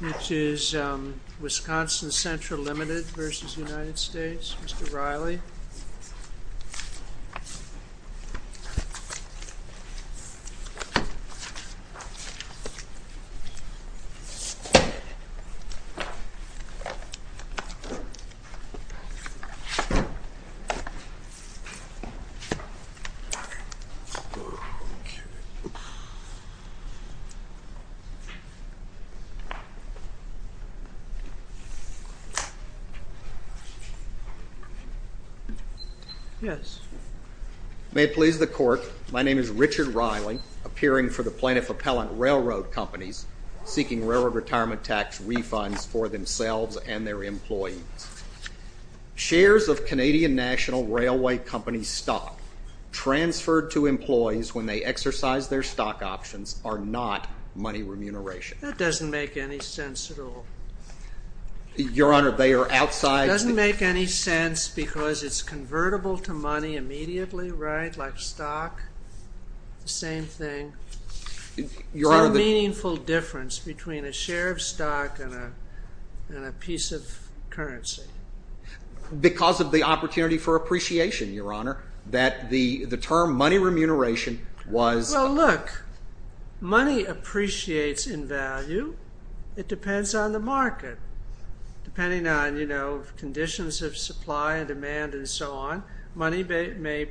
This is Wisconsin Central Limited v. United States, Mr. Riley. May it please the Court, my name is Richard Riley, appearing for the Plaintiff-Appellant Railroad Companies, seeking railroad retirement tax refunds for themselves and their employees. Shares of Canadian National Railway Company stock transferred to employees when they exercise their stock options are not money remuneration. That doesn't make any sense at all. Your Honor, they are outside... It doesn't make any sense because it's convertible to money immediately, right, like stock? The same thing. Your Honor... There's no meaningful difference between a share of stock and a piece of currency. Because of the opportunity for appreciation, Your Honor. That the term money remuneration was... So look, money appreciates in value. It depends on the market, depending on, you know, conditions of supply and demand and so on. Money may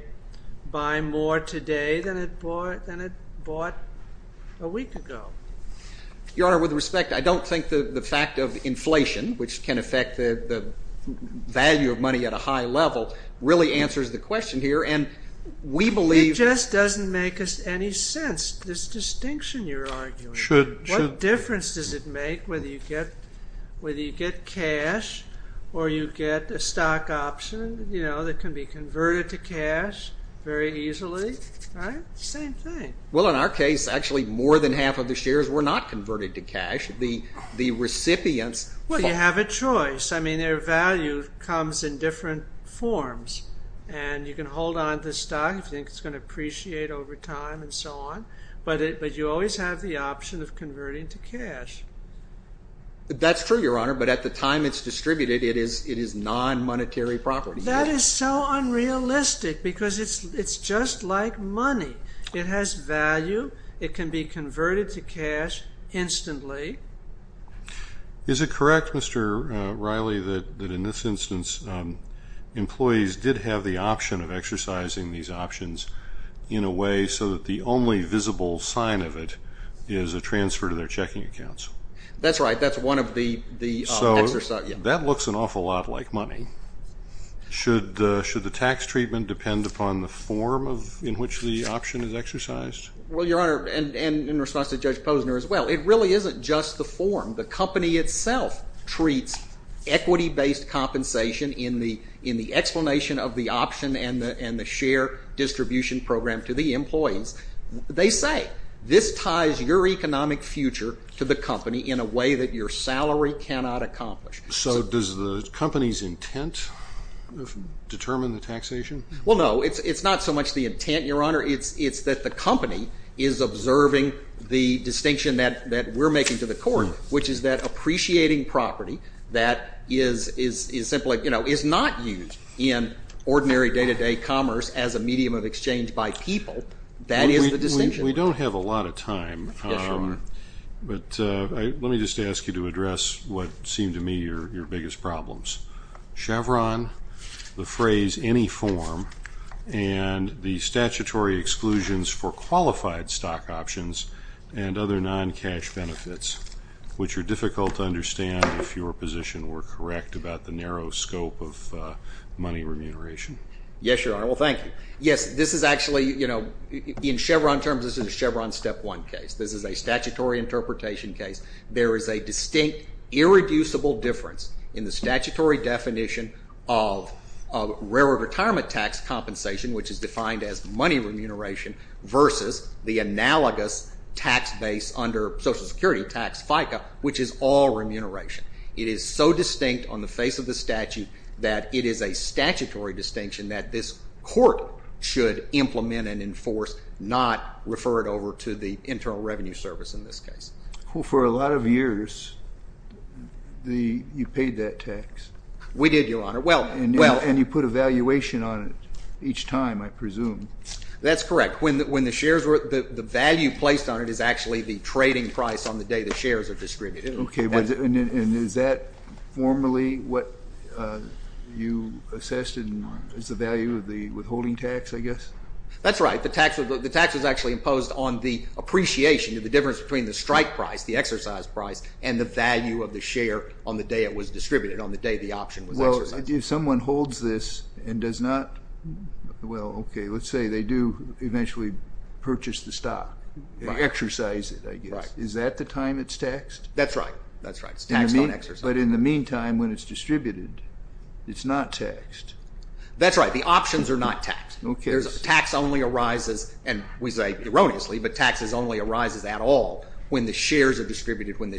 buy more today than it bought a week ago. Your Honor, with respect, I don't think the fact of inflation, which can affect the value of money at a high level, really answers the question here, and we believe... It just doesn't make any sense, this distinction you're arguing. What difference does it make whether you get cash or you get a stock option, you know, that can be converted to cash very easily, right? Same thing. Well, in our case, actually more than half of the shares were not converted to cash. The recipients... Well, you have a choice. I mean, their value comes in different forms. And you can hold on to the stock if you think it's going to appreciate over time and so on. But you always have the option of converting to cash. That's true, Your Honor, but at the time it's distributed, it is non-monetary property. That is so unrealistic because it's just like money. It has value. It can be converted to cash instantly. Is it correct, Mr. Riley, that in this instance, employees did have the option of exercising these options in a way so that the only visible sign of it is a transfer to their checking accounts? That's right. That's one of the exercises. So that looks an awful lot like money. Should the tax treatment depend upon the form in which the option is exercised? Well, Your Honor, and in response to Judge Posner as well, it really isn't just the form. The company itself treats equity-based compensation in the explanation of the option and the share distribution program to the employees. They say this ties your economic future to the company in a way that your salary cannot accomplish. So does the company's intent determine the taxation? Well, no. It's not so much the intent, Your Honor. It's that the company is observing the distinction that we're making to the court, which is that appreciating property that is simply not used in ordinary day-to-day commerce as a medium of exchange by people, that is the distinction. We don't have a lot of time. Yes, Your Honor. But let me just ask you to address what seem to me your biggest problems. Chevron, the phrase any form, and the statutory exclusions for qualified stock options and other non-cash benefits, which are difficult to understand if your position were correct about the narrow scope of money remuneration. Yes, Your Honor. Well, thank you. Yes, this is actually, you know, in Chevron terms, this is a Chevron Step 1 case. This is a statutory interpretation case. There is a distinct irreducible difference in the statutory definition of railroad retirement tax compensation, which is defined as money remuneration, versus the analogous tax base under Social Security tax, FICA, which is all remuneration. It is so distinct on the face of the statute that it is a statutory distinction that this court should implement and enforce, not refer it over to the Internal Revenue Service in this case. Well, for a lot of years, you paid that tax. We did, Your Honor. And you put a valuation on it each time, I presume. That's correct. When the shares were, the value placed on it is actually the trading price on the day the shares are distributed. And is that formally what you assessed as the value of the withholding tax, I guess? That's right. The tax was actually imposed on the appreciation of the difference between the strike price, the exercise price, and the value of the share on the day it was distributed, on the day the option was exercised. Well, if someone holds this and does not, well, okay, let's say they do eventually purchase the stock, exercise it, I guess. Is that the time it's taxed? That's right. It's taxed on exercise. But in the meantime, when it's distributed, it's not taxed. That's right. The options are not taxed. Okay. Tax only arises, and we say erroneously, but tax only arises at all when the shares are distributed, when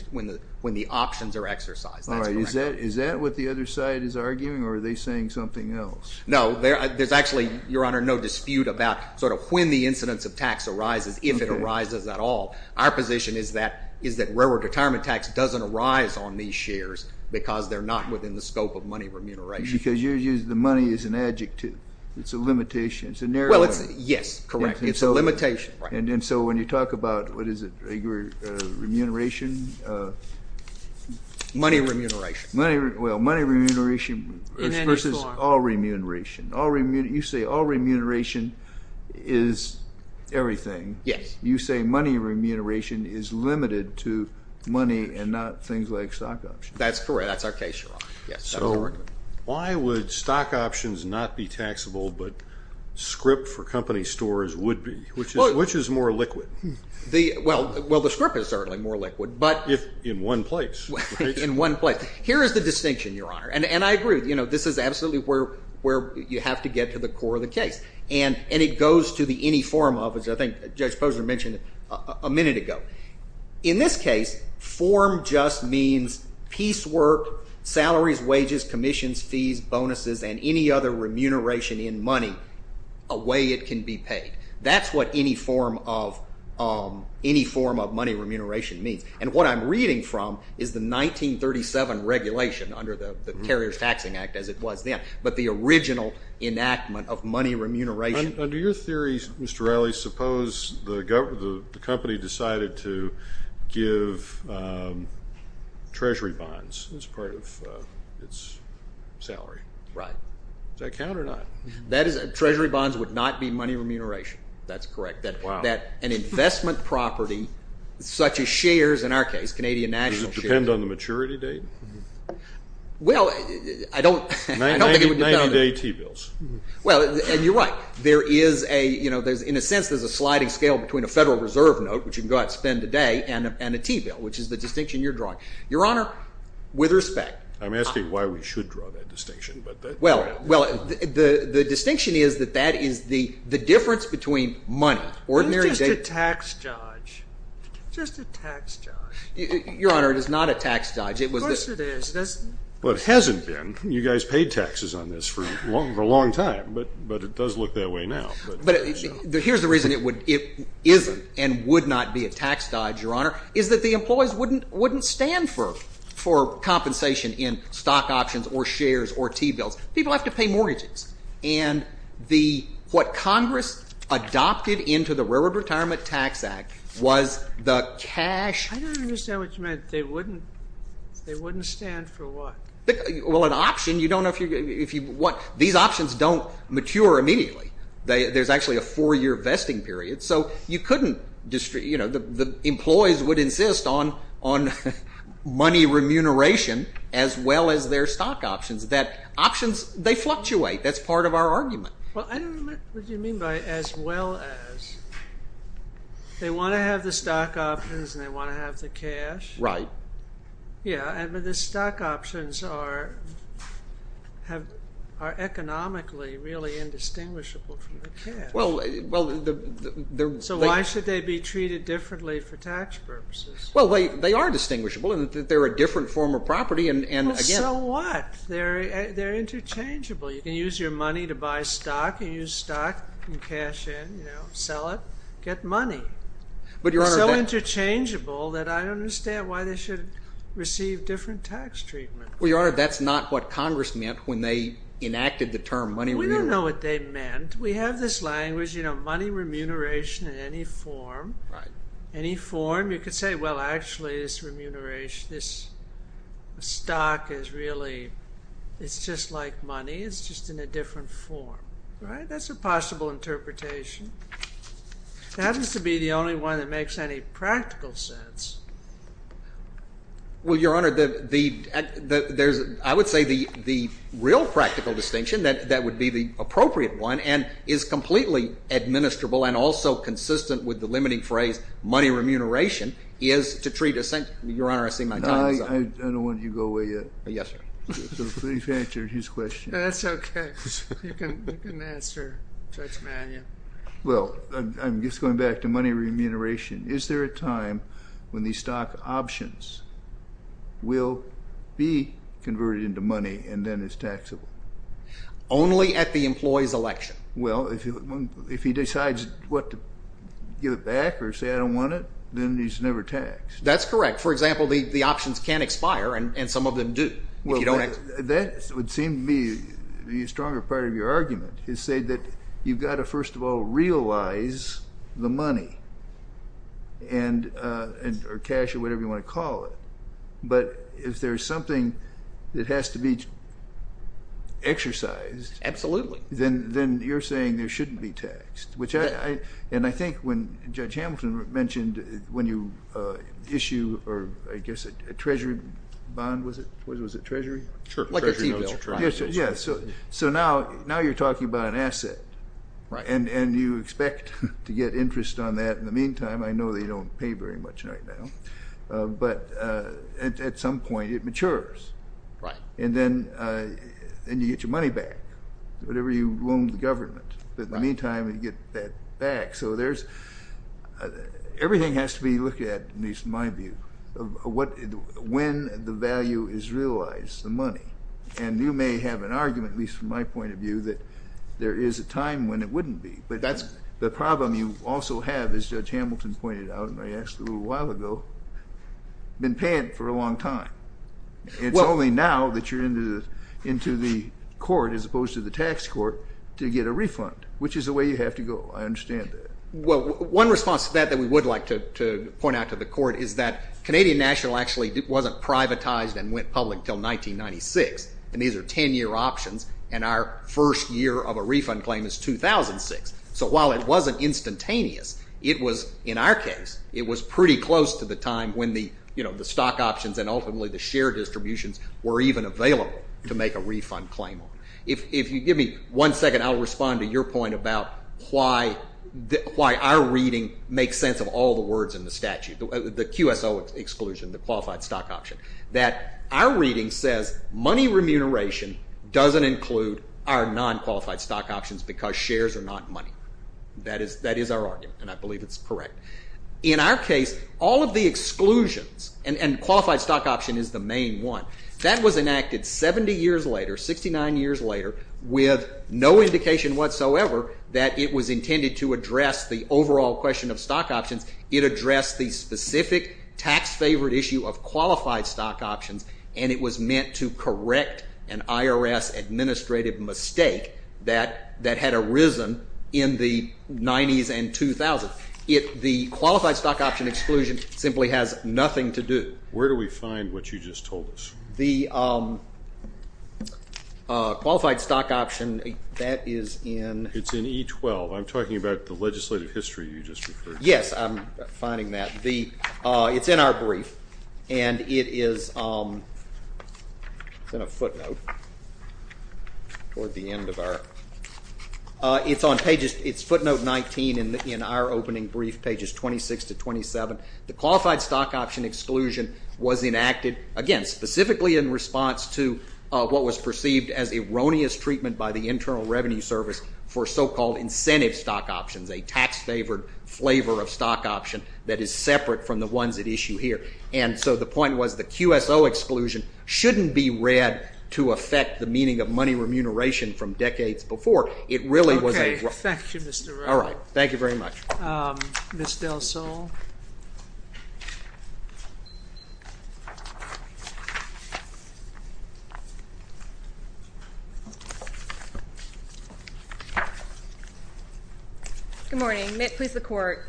the options are exercised. All right. Is that what the other side is arguing, or are they saying something else? No. There's actually, Your Honor, no dispute about sort of when the incidence of tax arises, if it arises at all. Our position is that railroad retirement tax doesn't arise on these shares because they're not within the scope of money remuneration. Because the money is an adjective. It's a limitation. It's a narrowing. Well, yes, correct. It's a limitation. And so when you talk about, what is it, remuneration? Money remuneration. Well, money remuneration versus all remuneration. You say all remuneration is everything. Yes. You say money remuneration is limited to money and not things like stock options. That's correct. That's our case, Your Honor. So why would stock options not be taxable but script for company stores would be? Which is more liquid? Well, the script is certainly more liquid. In one place, right? In one place. Here is the distinction, Your Honor. And I agree with you. This is absolutely where you have to get to the core of the case. And it goes to the any form of, as I think Judge Posner mentioned a minute ago. In this case, form just means piecework, salaries, wages, commissions, fees, bonuses, and any other remuneration in money, a way it can be paid. That's what any form of money remuneration means. And what I'm reading from is the 1937 regulation under the Carrier's Taxing Act, as it was then, but the original enactment of money remuneration. Under your theory, Mr. Riley, suppose the company decided to give treasury bonds as part of its salary. Right. Does that count or not? Treasury bonds would not be money remuneration. That's correct. Wow. An investment property such as shares, in our case, Canadian National Shares. Does it depend on the maturity date? Well, I don't think it would depend. 90-day T-bills. Well, and you're right. There is a, you know, in a sense there's a sliding scale between a Federal Reserve note, which you can go out and spend today, and a T-bill, which is the distinction you're drawing. Your Honor, with respect. I'm asking why we should draw that distinction. Well, the distinction is that that is the difference between money. It's just a tax judge. Just a tax judge. Your Honor, it is not a tax judge. Of course it is. Well, it hasn't been. You guys paid taxes on this for a long time, but it does look that way now. Here's the reason it isn't and would not be a tax judge, Your Honor, is that the employees wouldn't stand for compensation in stock options or shares or T-bills. People have to pay mortgages. And what Congress adopted into the Railroad Retirement Tax Act was the cash. I don't understand what you meant. They wouldn't stand for what? Well, an option, you don't know if you want. These options don't mature immediately. There's actually a four-year vesting period. So you couldn't, you know, the employees would insist on money remuneration as well as their stock options. Options, they fluctuate. That's part of our argument. Well, I don't know what you mean by as well as. They want to have the stock options and they want to have the cash. Right. Yeah, but the stock options are economically really indistinguishable from the cash. Well, they're... So why should they be treated differently for tax purposes? Well, they are distinguishable in that they're a different form of property and again... Well, so what? They're interchangeable. You can use your money to buy stock. You use stock and cash in, you know, sell it, get money. But, Your Honor... So interchangeable that I don't understand why they should receive different tax treatment. Well, Your Honor, that's not what Congress meant when they enacted the term money remuneration. We don't know what they meant. We have this language, you know, money remuneration in any form. Right. Any form. You could say, well, actually, this remuneration, this stock is really, it's just like money. It's just in a different form. Right? That's a possible interpretation. It happens to be the only one that makes any practical sense. Well, Your Honor, the... I would say the real practical distinction that would be the appropriate one and is completely administrable and also consistent with the limiting phrase money remuneration is to treat... Your Honor, I see my time is up. I don't want you to go away yet. Yes, sir. So please answer his question. That's okay. You can answer Judge Mannion. Well, I'm just going back to money remuneration. Is there a time when the stock options will be converted into money and then is taxable? Only at the employee's election. Well, if he decides what to give it back or say I don't want it, then he's never taxed. That's correct. For example, the options can expire and some of them do. Well, that would seem to be the stronger part of your argument is say that you've got to first of all realize the money or cash or whatever you want to call it. But if there's something that has to be exercised... Absolutely. Then you're saying there shouldn't be taxed, which I... Judge Hamilton mentioned when you issue or I guess a treasury bond, was it? Was it treasury? Sure. Like a fee bill. Yes. So now you're talking about an asset. Right. And you expect to get interest on that in the meantime. I know they don't pay very much right now. But at some point, it matures. Right. And then you get your money back, whatever you owe the government. But in the meantime, you get that back. So everything has to be looked at, at least in my view, when the value is realized, the money. And you may have an argument, at least from my point of view, that there is a time when it wouldn't be. But that's the problem you also have, as Judge Hamilton pointed out and I asked a little while ago, been paying for a long time. It's only now that you're into the court as opposed to the tax court to get a refund, which is the way you have to go. I understand that. Well, one response to that that we would like to point out to the court is that Canadian National actually wasn't privatized and went public until 1996. And these are 10-year options. And our first year of a refund claim is 2006. So while it wasn't instantaneous, it was, in our case, it was pretty close to the time when the stock options and ultimately the share distributions were even available to make a refund claim on. If you give me one second, I'll respond to your point about why our reading makes sense of all the words in the statute, the QSO exclusion, the Qualified Stock Option. That our reading says money remuneration doesn't include our non-qualified stock options because shares are not money. That is our argument, and I believe it's correct. In our case, all of the exclusions, and Qualified Stock Option is the main one, that was enacted 70 years later, 69 years later, with no indication whatsoever that it was intended to address the overall question of stock options. It addressed the specific tax-favored issue of Qualified Stock Options, and it was meant to correct an IRS administrative mistake that had arisen in the 90s and 2000s. The Qualified Stock Option exclusion simply has nothing to do. Where do we find what you just told us? The Qualified Stock Option, that is in... It's in E12. I'm talking about the legislative history you just referred to. Yes, I'm finding that. It's in our brief, and it is in a footnote. It's footnote 19 in our opening brief, pages 26 to 27. The Qualified Stock Option exclusion was enacted, again, specifically in response to what was perceived as erroneous treatment by the Internal Revenue Service for so-called incentive stock options, a tax-favored flavor of stock option that is separate from the ones at issue here, and so the point was the QSO exclusion shouldn't be read to affect the meaning of money remuneration from decades before. It really was a... Okay, thank you, Mr. Rowe. All right, thank you very much. Ms. Del Sol. Good morning. Please, the Court.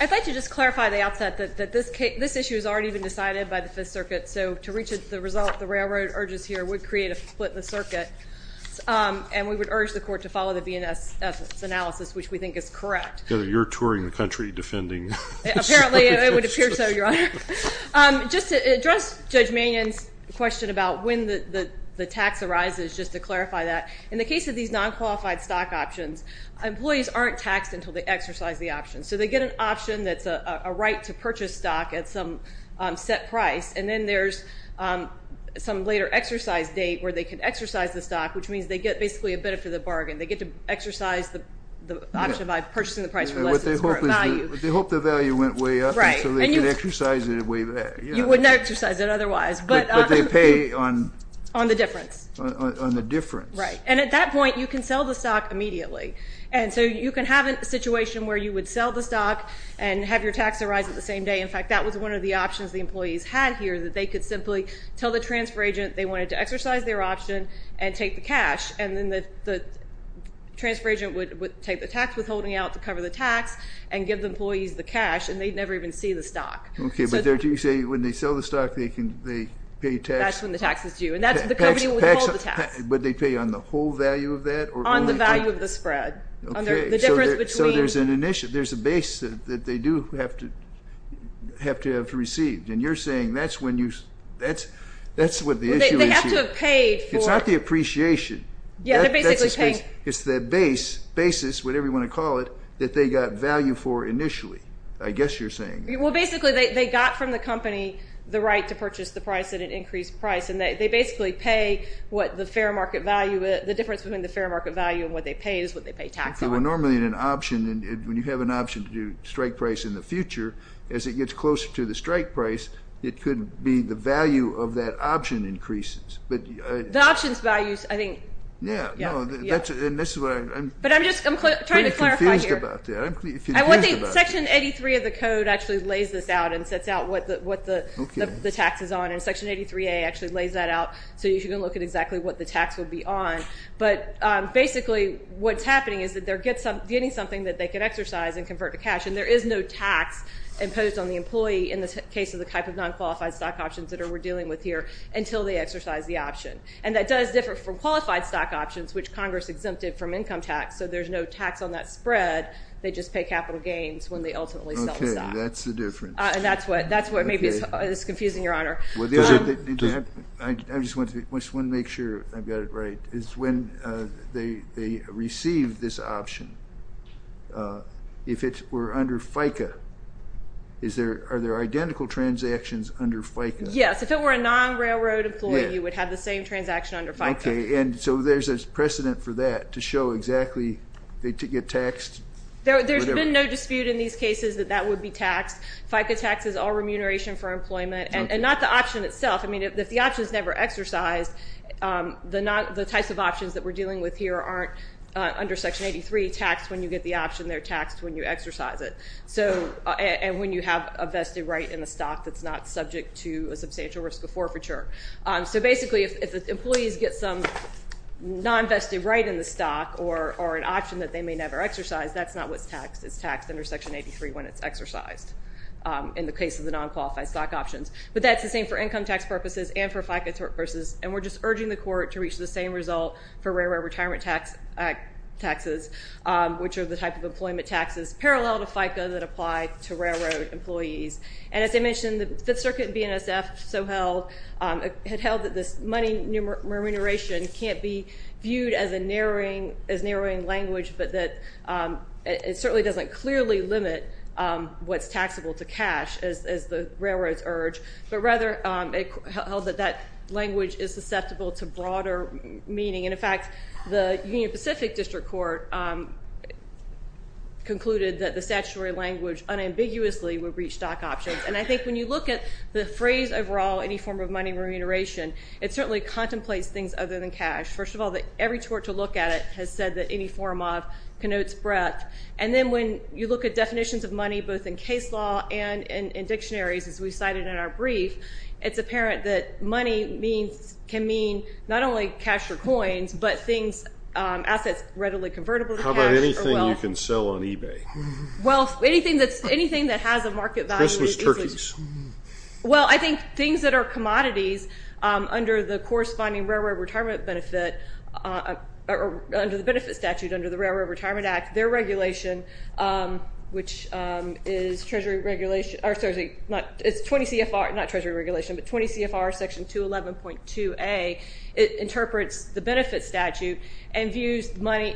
I'd like to just clarify at the outset that this issue has already been decided by the Fifth Circuit, so to reach the result, the railroad urges here would create a split in the circuit, and we would urge the Court to follow the BNSF's analysis, which we think is correct. You're touring the country defending... Apparently, it would appear so, Your Honor. Just to address Judge Mannion's question about when the tax arises, just to clarify that, in the case of these non-qualified stock options, employees aren't taxed until they exercise the option. So they get an option that's a right to purchase stock at some set price, and then there's some later exercise date where they can exercise the stock, which means they get basically a benefit of the bargain. They get to exercise the option by purchasing the price for less than the current value. But they hope the value went way up, and so they can exercise it way back. You wouldn't exercise it otherwise, but... But they pay on... On the difference. On the difference. Right, and at that point, you can sell the stock immediately, and so you can have a situation where you would sell the stock and have your tax arise at the same day. In fact, that was one of the options the employees had here, that they could simply tell the transfer agent they wanted to exercise their option and take the cash, and then the transfer agent would take the tax withholding out to cover the tax and give the employees the cash, and they'd never even see the stock. Okay, but you say when they sell the stock, they pay tax... That's when the tax is due, and that's when the company would withhold the tax. But they pay on the whole value of that, or... On the value of the spread, the difference between... Okay, so there's a base that they do have to have received, and you're saying that's when you... That's what the issue is here. It's not the appreciation. Yeah, they're basically paying... It's the basis, whatever you want to call it, that they got value for initially, I guess you're saying. Well, basically, they got from the company the right to purchase the price at an increased price, and they basically pay what the fair market value... The difference between the fair market value and what they pay is what they pay tax on. Okay, well, normally in an option, when you have an option to do strike price in the future, as it gets closer to the strike price, it could be the value of that option increases. The options values, I think... Yeah, no, that's where I'm... But I'm just trying to clarify here. I'm confused about that. Section 83 of the code actually lays this out and sets out what the tax is on, and Section 83A actually lays that out, so you can look at exactly what the tax would be on. But basically, what's happening is that they're getting something that they can exercise and convert to cash, and there is no tax imposed on the employee in the case of the type of non-qualified stock options that we're dealing with here until they exercise the option. And that does differ from qualified stock options, which Congress exempted from income tax, so there's no tax on that spread. They just pay capital gains when they ultimately sell the stock. Okay, that's the difference. And that's what maybe is confusing, Your Honor. I just want to make sure I've got it right. It's when they receive this option. If it were under FICA, are there identical transactions under FICA? Yes, if it were a non-railroad employee, you would have the same transaction under FICA. Okay, and so there's a precedent for that to show exactly they get taxed? There's been no dispute in these cases that that would be taxed. FICA taxes all remuneration for employment, and not the option itself. I mean, if the option's never exercised, the types of options that we're dealing with here aren't under Section 83, taxed when you get the option, they're taxed when you exercise it. And when you have a vested right in the stock that's not subject to a substantial risk of forfeiture. So basically, if the employees get some non-vested right in the stock or an option that they may never exercise, that's not what's taxed. It's taxed under Section 83 when it's exercised in the case of the non-qualified stock options. But that's the same for income tax purposes and for FICA purposes, and we're just urging the court to reach the same result for railroad retirement taxes, which are the type of employment taxes parallel to FICA that apply to railroad employees. And as I mentioned, the Fifth Circuit and BNSF had held that this money remuneration can't be viewed as narrowing language, but that it certainly doesn't clearly limit what's taxable to cash, as the railroads urge. But rather, it held that that language is susceptible to broader meaning. And in fact, the Union Pacific District Court concluded that the statutory language unambiguously would breach stock options. And I think when you look at the phrase overall, any form of money remuneration, it certainly contemplates things other than cash. First of all, every tort to look at it has said that any form of connotes breadth. And then when you look at definitions of money, both in case law and in dictionaries, as we cited in our brief, it's apparent that money can mean not only cash or coins, but assets readily convertible to cash or wealth. How about anything you can sell on eBay? Well, anything that has a market value... Christmas turkeys. Well, I think things that are commodities under the corresponding Railroad Retirement Benefit... or under the benefit statute under the Railroad Retirement Act, their regulation, which is Treasury regulation... or sorry, it's 20 CFR... not Treasury regulation, but 20 CFR, section 211.2a, it interprets the benefit statute and views money...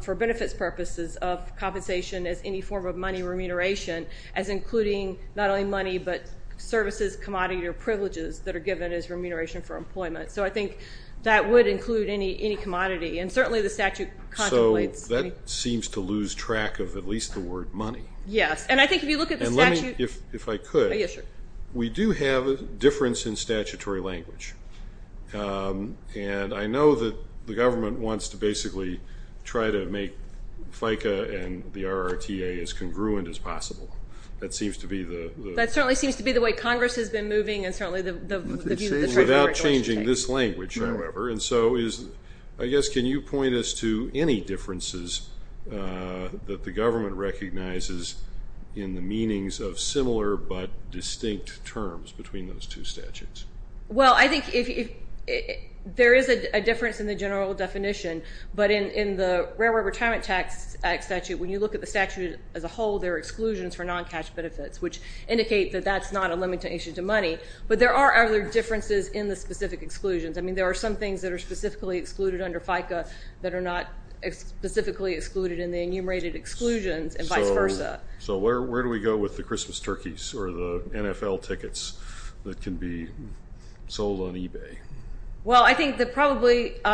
for benefits purposes of compensation as any form of money remuneration as including not only money, but services, commodities, or privileges that are given as remuneration for employment. So I think that would include any commodity. And certainly the statute contemplates... So that seems to lose track of at least the word money. Yes, and I think if you look at the statute... And let me, if I could... We do have a difference in statutory language. And I know that the government wants to basically try to make FICA and the RRTA as congruent as possible. That seems to be the... That certainly seems to be the way Congress has been moving and certainly the view that the Treasury regulation takes. Without changing this language, however. And so, I guess, can you point us to any differences that the government recognizes in the meanings of similar but distinct terms between those two statutes? Well, I think if... There is a difference in the general definition. But in the Railroad Retirement Tax Act statute, when you look at the statute as a whole, there are exclusions for non-cash benefits, which indicate that that's not a limited issue to money. But there are other differences in the specific exclusions. I mean, there are some things that are specifically excluded under FICA that are not specifically excluded in the enumerated exclusions, and vice versa. So where do we go with the Christmas turkeys or the NFL tickets that can be sold on eBay? Well, I think that probably... You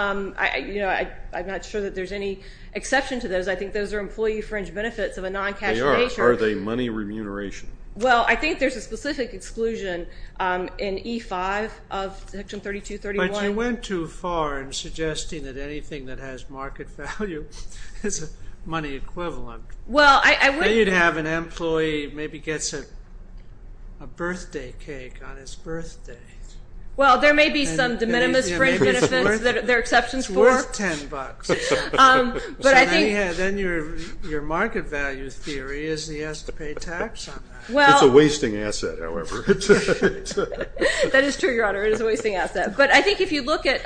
know, I'm not sure that there's any exception to those. I think those are employee fringe benefits of a non-cash... They are. Are they money remuneration? Well, I think there's a specific exclusion in E-5 of Section 3231. But you went too far in suggesting that anything that has market value is a money equivalent. Well, I would... You'd have an employee maybe gets a birthday cake on his birthday. Well, there may be some de minimis fringe benefits that there are exceptions for. It's worth $10. Then your market value theory is he has to pay tax on that. It's a wasting asset, however. That is true, Your Honor. It is a wasting asset. But I think if you look at...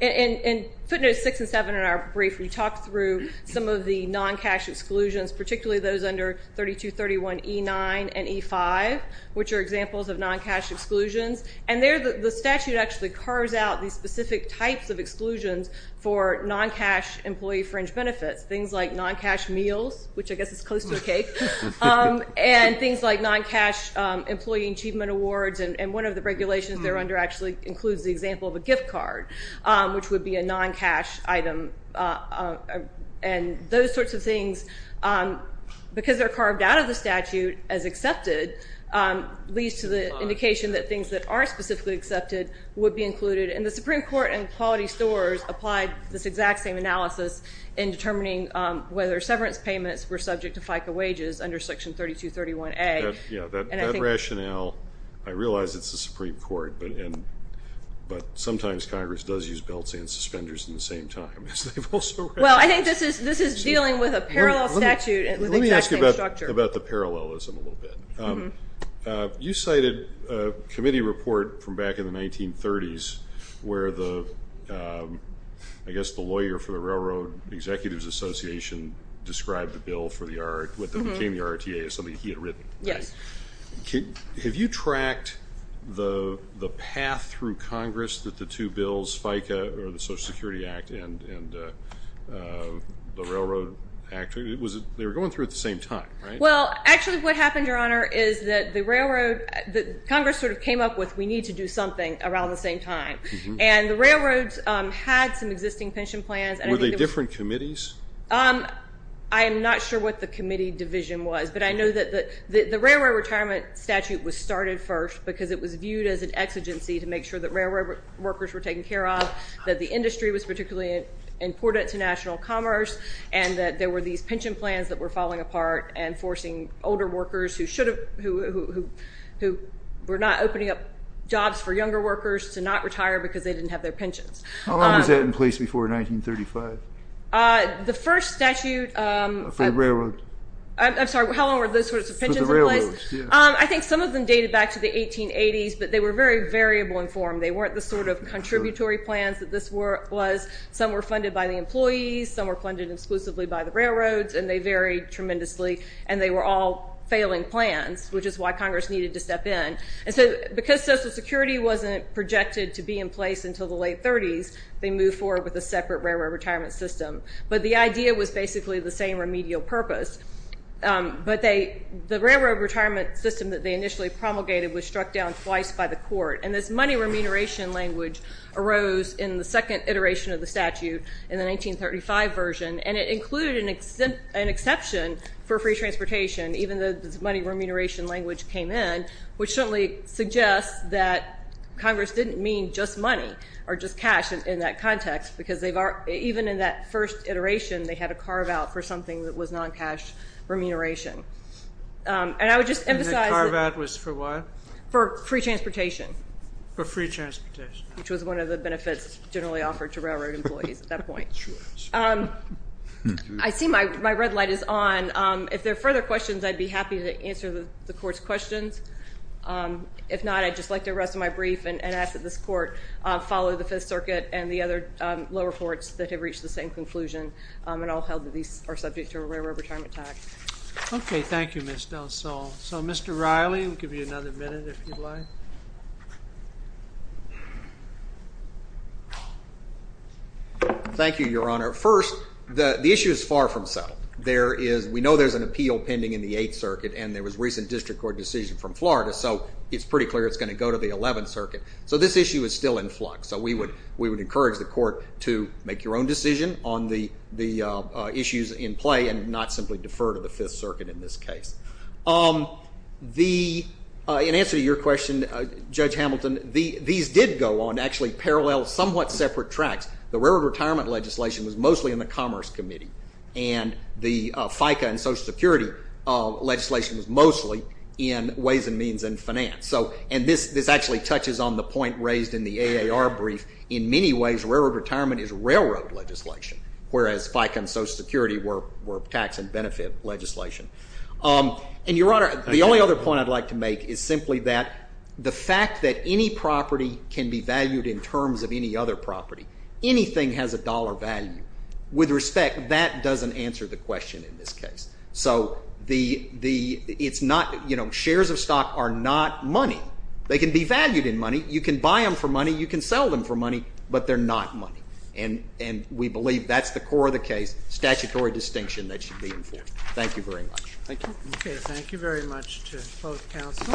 In footnotes 6 and 7 in our brief, we talked through some of the non-cash exclusions, particularly those under 3231E9 and E-5, which are examples of non-cash exclusions. And the statute actually carves out these specific types of exclusions for non-cash employee fringe benefits. Things like non-cash meals, which I guess is close to a cake. And things like non-cash employee achievement awards. And one of the regulations they're under actually includes the example of a gift card, which would be a non-cash item. And those sorts of things, because they're carved out of the statute as accepted, leads to the indication that things that are specifically accepted would be included. And the Supreme Court in Quality Stores applied this exact same analysis in determining whether severance payments were subject to FICA wages under Section 3231A. That rationale, I realize it's the Supreme Court, but sometimes Congress does use belts and suspenders at the same time. Well, I think this is dealing with a parallel statute Let me ask you about the parallelism a little bit. You cited a committee report from back in the 1930s where the I guess the lawyer for the Railroad Executives Association described the bill for the RTA as something he had written. Have you tracked the path through Congress that the two bills, FICA or the Social Security Act and the Railroad Act, they were going through at the same time, right? Well, actually what happened, Your Honor, is that the Railroad Congress sort of came up with we need to do something around the same time. And the Railroads had some existing pension plans. Were they different committees? I'm not sure what the committee division was, but I know that the Railroad Retirement Statute was started first because it was viewed as an exigency to make sure that railroad workers were taken care of, that the industry was particularly important to national commerce, and that there were these pension plans that were falling apart and forcing older workers who should have, who were not opening up jobs for younger workers to not retire because they didn't have their pensions. How long was that in place before 1935? The first statute For the railroad. I'm sorry, how long were those sorts of pensions in place? I think some of them dated back to the 1880s, but they were very variable in form. They weren't the sort of contributory plans that this was. Some were funded by the employees, some were funded exclusively by the railroads, and they varied tremendously. And they were all failing plans, which is why Congress needed to step in. And so because Social Security wasn't projected to be in place until the late 30s, they moved forward with a separate railroad retirement system. But the idea was basically the same remedial purpose. The railroad retirement system that they initially promulgated was struck down twice by the court. And this money remuneration language arose in the second iteration of the statute in the 1935 version, and it included an exception for free transportation, even though this money remuneration language came in, which certainly suggests that Congress didn't mean just money or just cash in that context because even in that first iteration, they had a carve-out for something that was non-cash remuneration. And I would just emphasize That carve-out was for what? For free transportation. For free transportation. Which was one of the benefits generally offered to railroad employees at that point. Sure. I see my red light is on. If there are further questions, I'd be happy to answer the court's questions. If not, I'd just like to rest my brief and ask that this court follow the Fifth Circuit and the other lower courts that have reached the same conclusion and all held that these are subject to a railroad retirement tax. Okay. Thank you, Ms. Del Sol. So, Mr. Riley, we'll give you another minute if you'd like. Thank you, Your Honor. First, the issue is far from settled. We know there's an appeal pending in the Eighth Circuit, and there was a recent district court decision from Florida, so it's pretty clear it's going to go to the Eleventh Circuit. So this issue is still in flux. So we would encourage the court to make your own decision on the issues in play and not simply defer to the Fifth Circuit in this case. In answer to your question, Judge Hamilton, these did go on actually parallel somewhat separate tracks. The railroad retirement legislation was mostly in the Commerce Committee, and the FICA and Social Security legislation was mostly in Ways and Means and Finance. This actually touches on the point raised in the AAR brief. In many ways, railroad retirement is railroad legislation, whereas FICA and Social Security were tax and benefit legislation. And, Your Honor, the only other point I'd like to make is simply that the fact that any property can be valued in terms of any other property, anything has a dollar value. With respect, that doesn't answer the question in this case. So it's not, you know, shares of stock are not money. They can be valued in money. You can buy them for money. You can sell them for money, but they're not money. And we believe that's the core of the case, statutory distinction that should be enforced. Thank you very much. Thank you. Okay. Thank you very much to both counsel.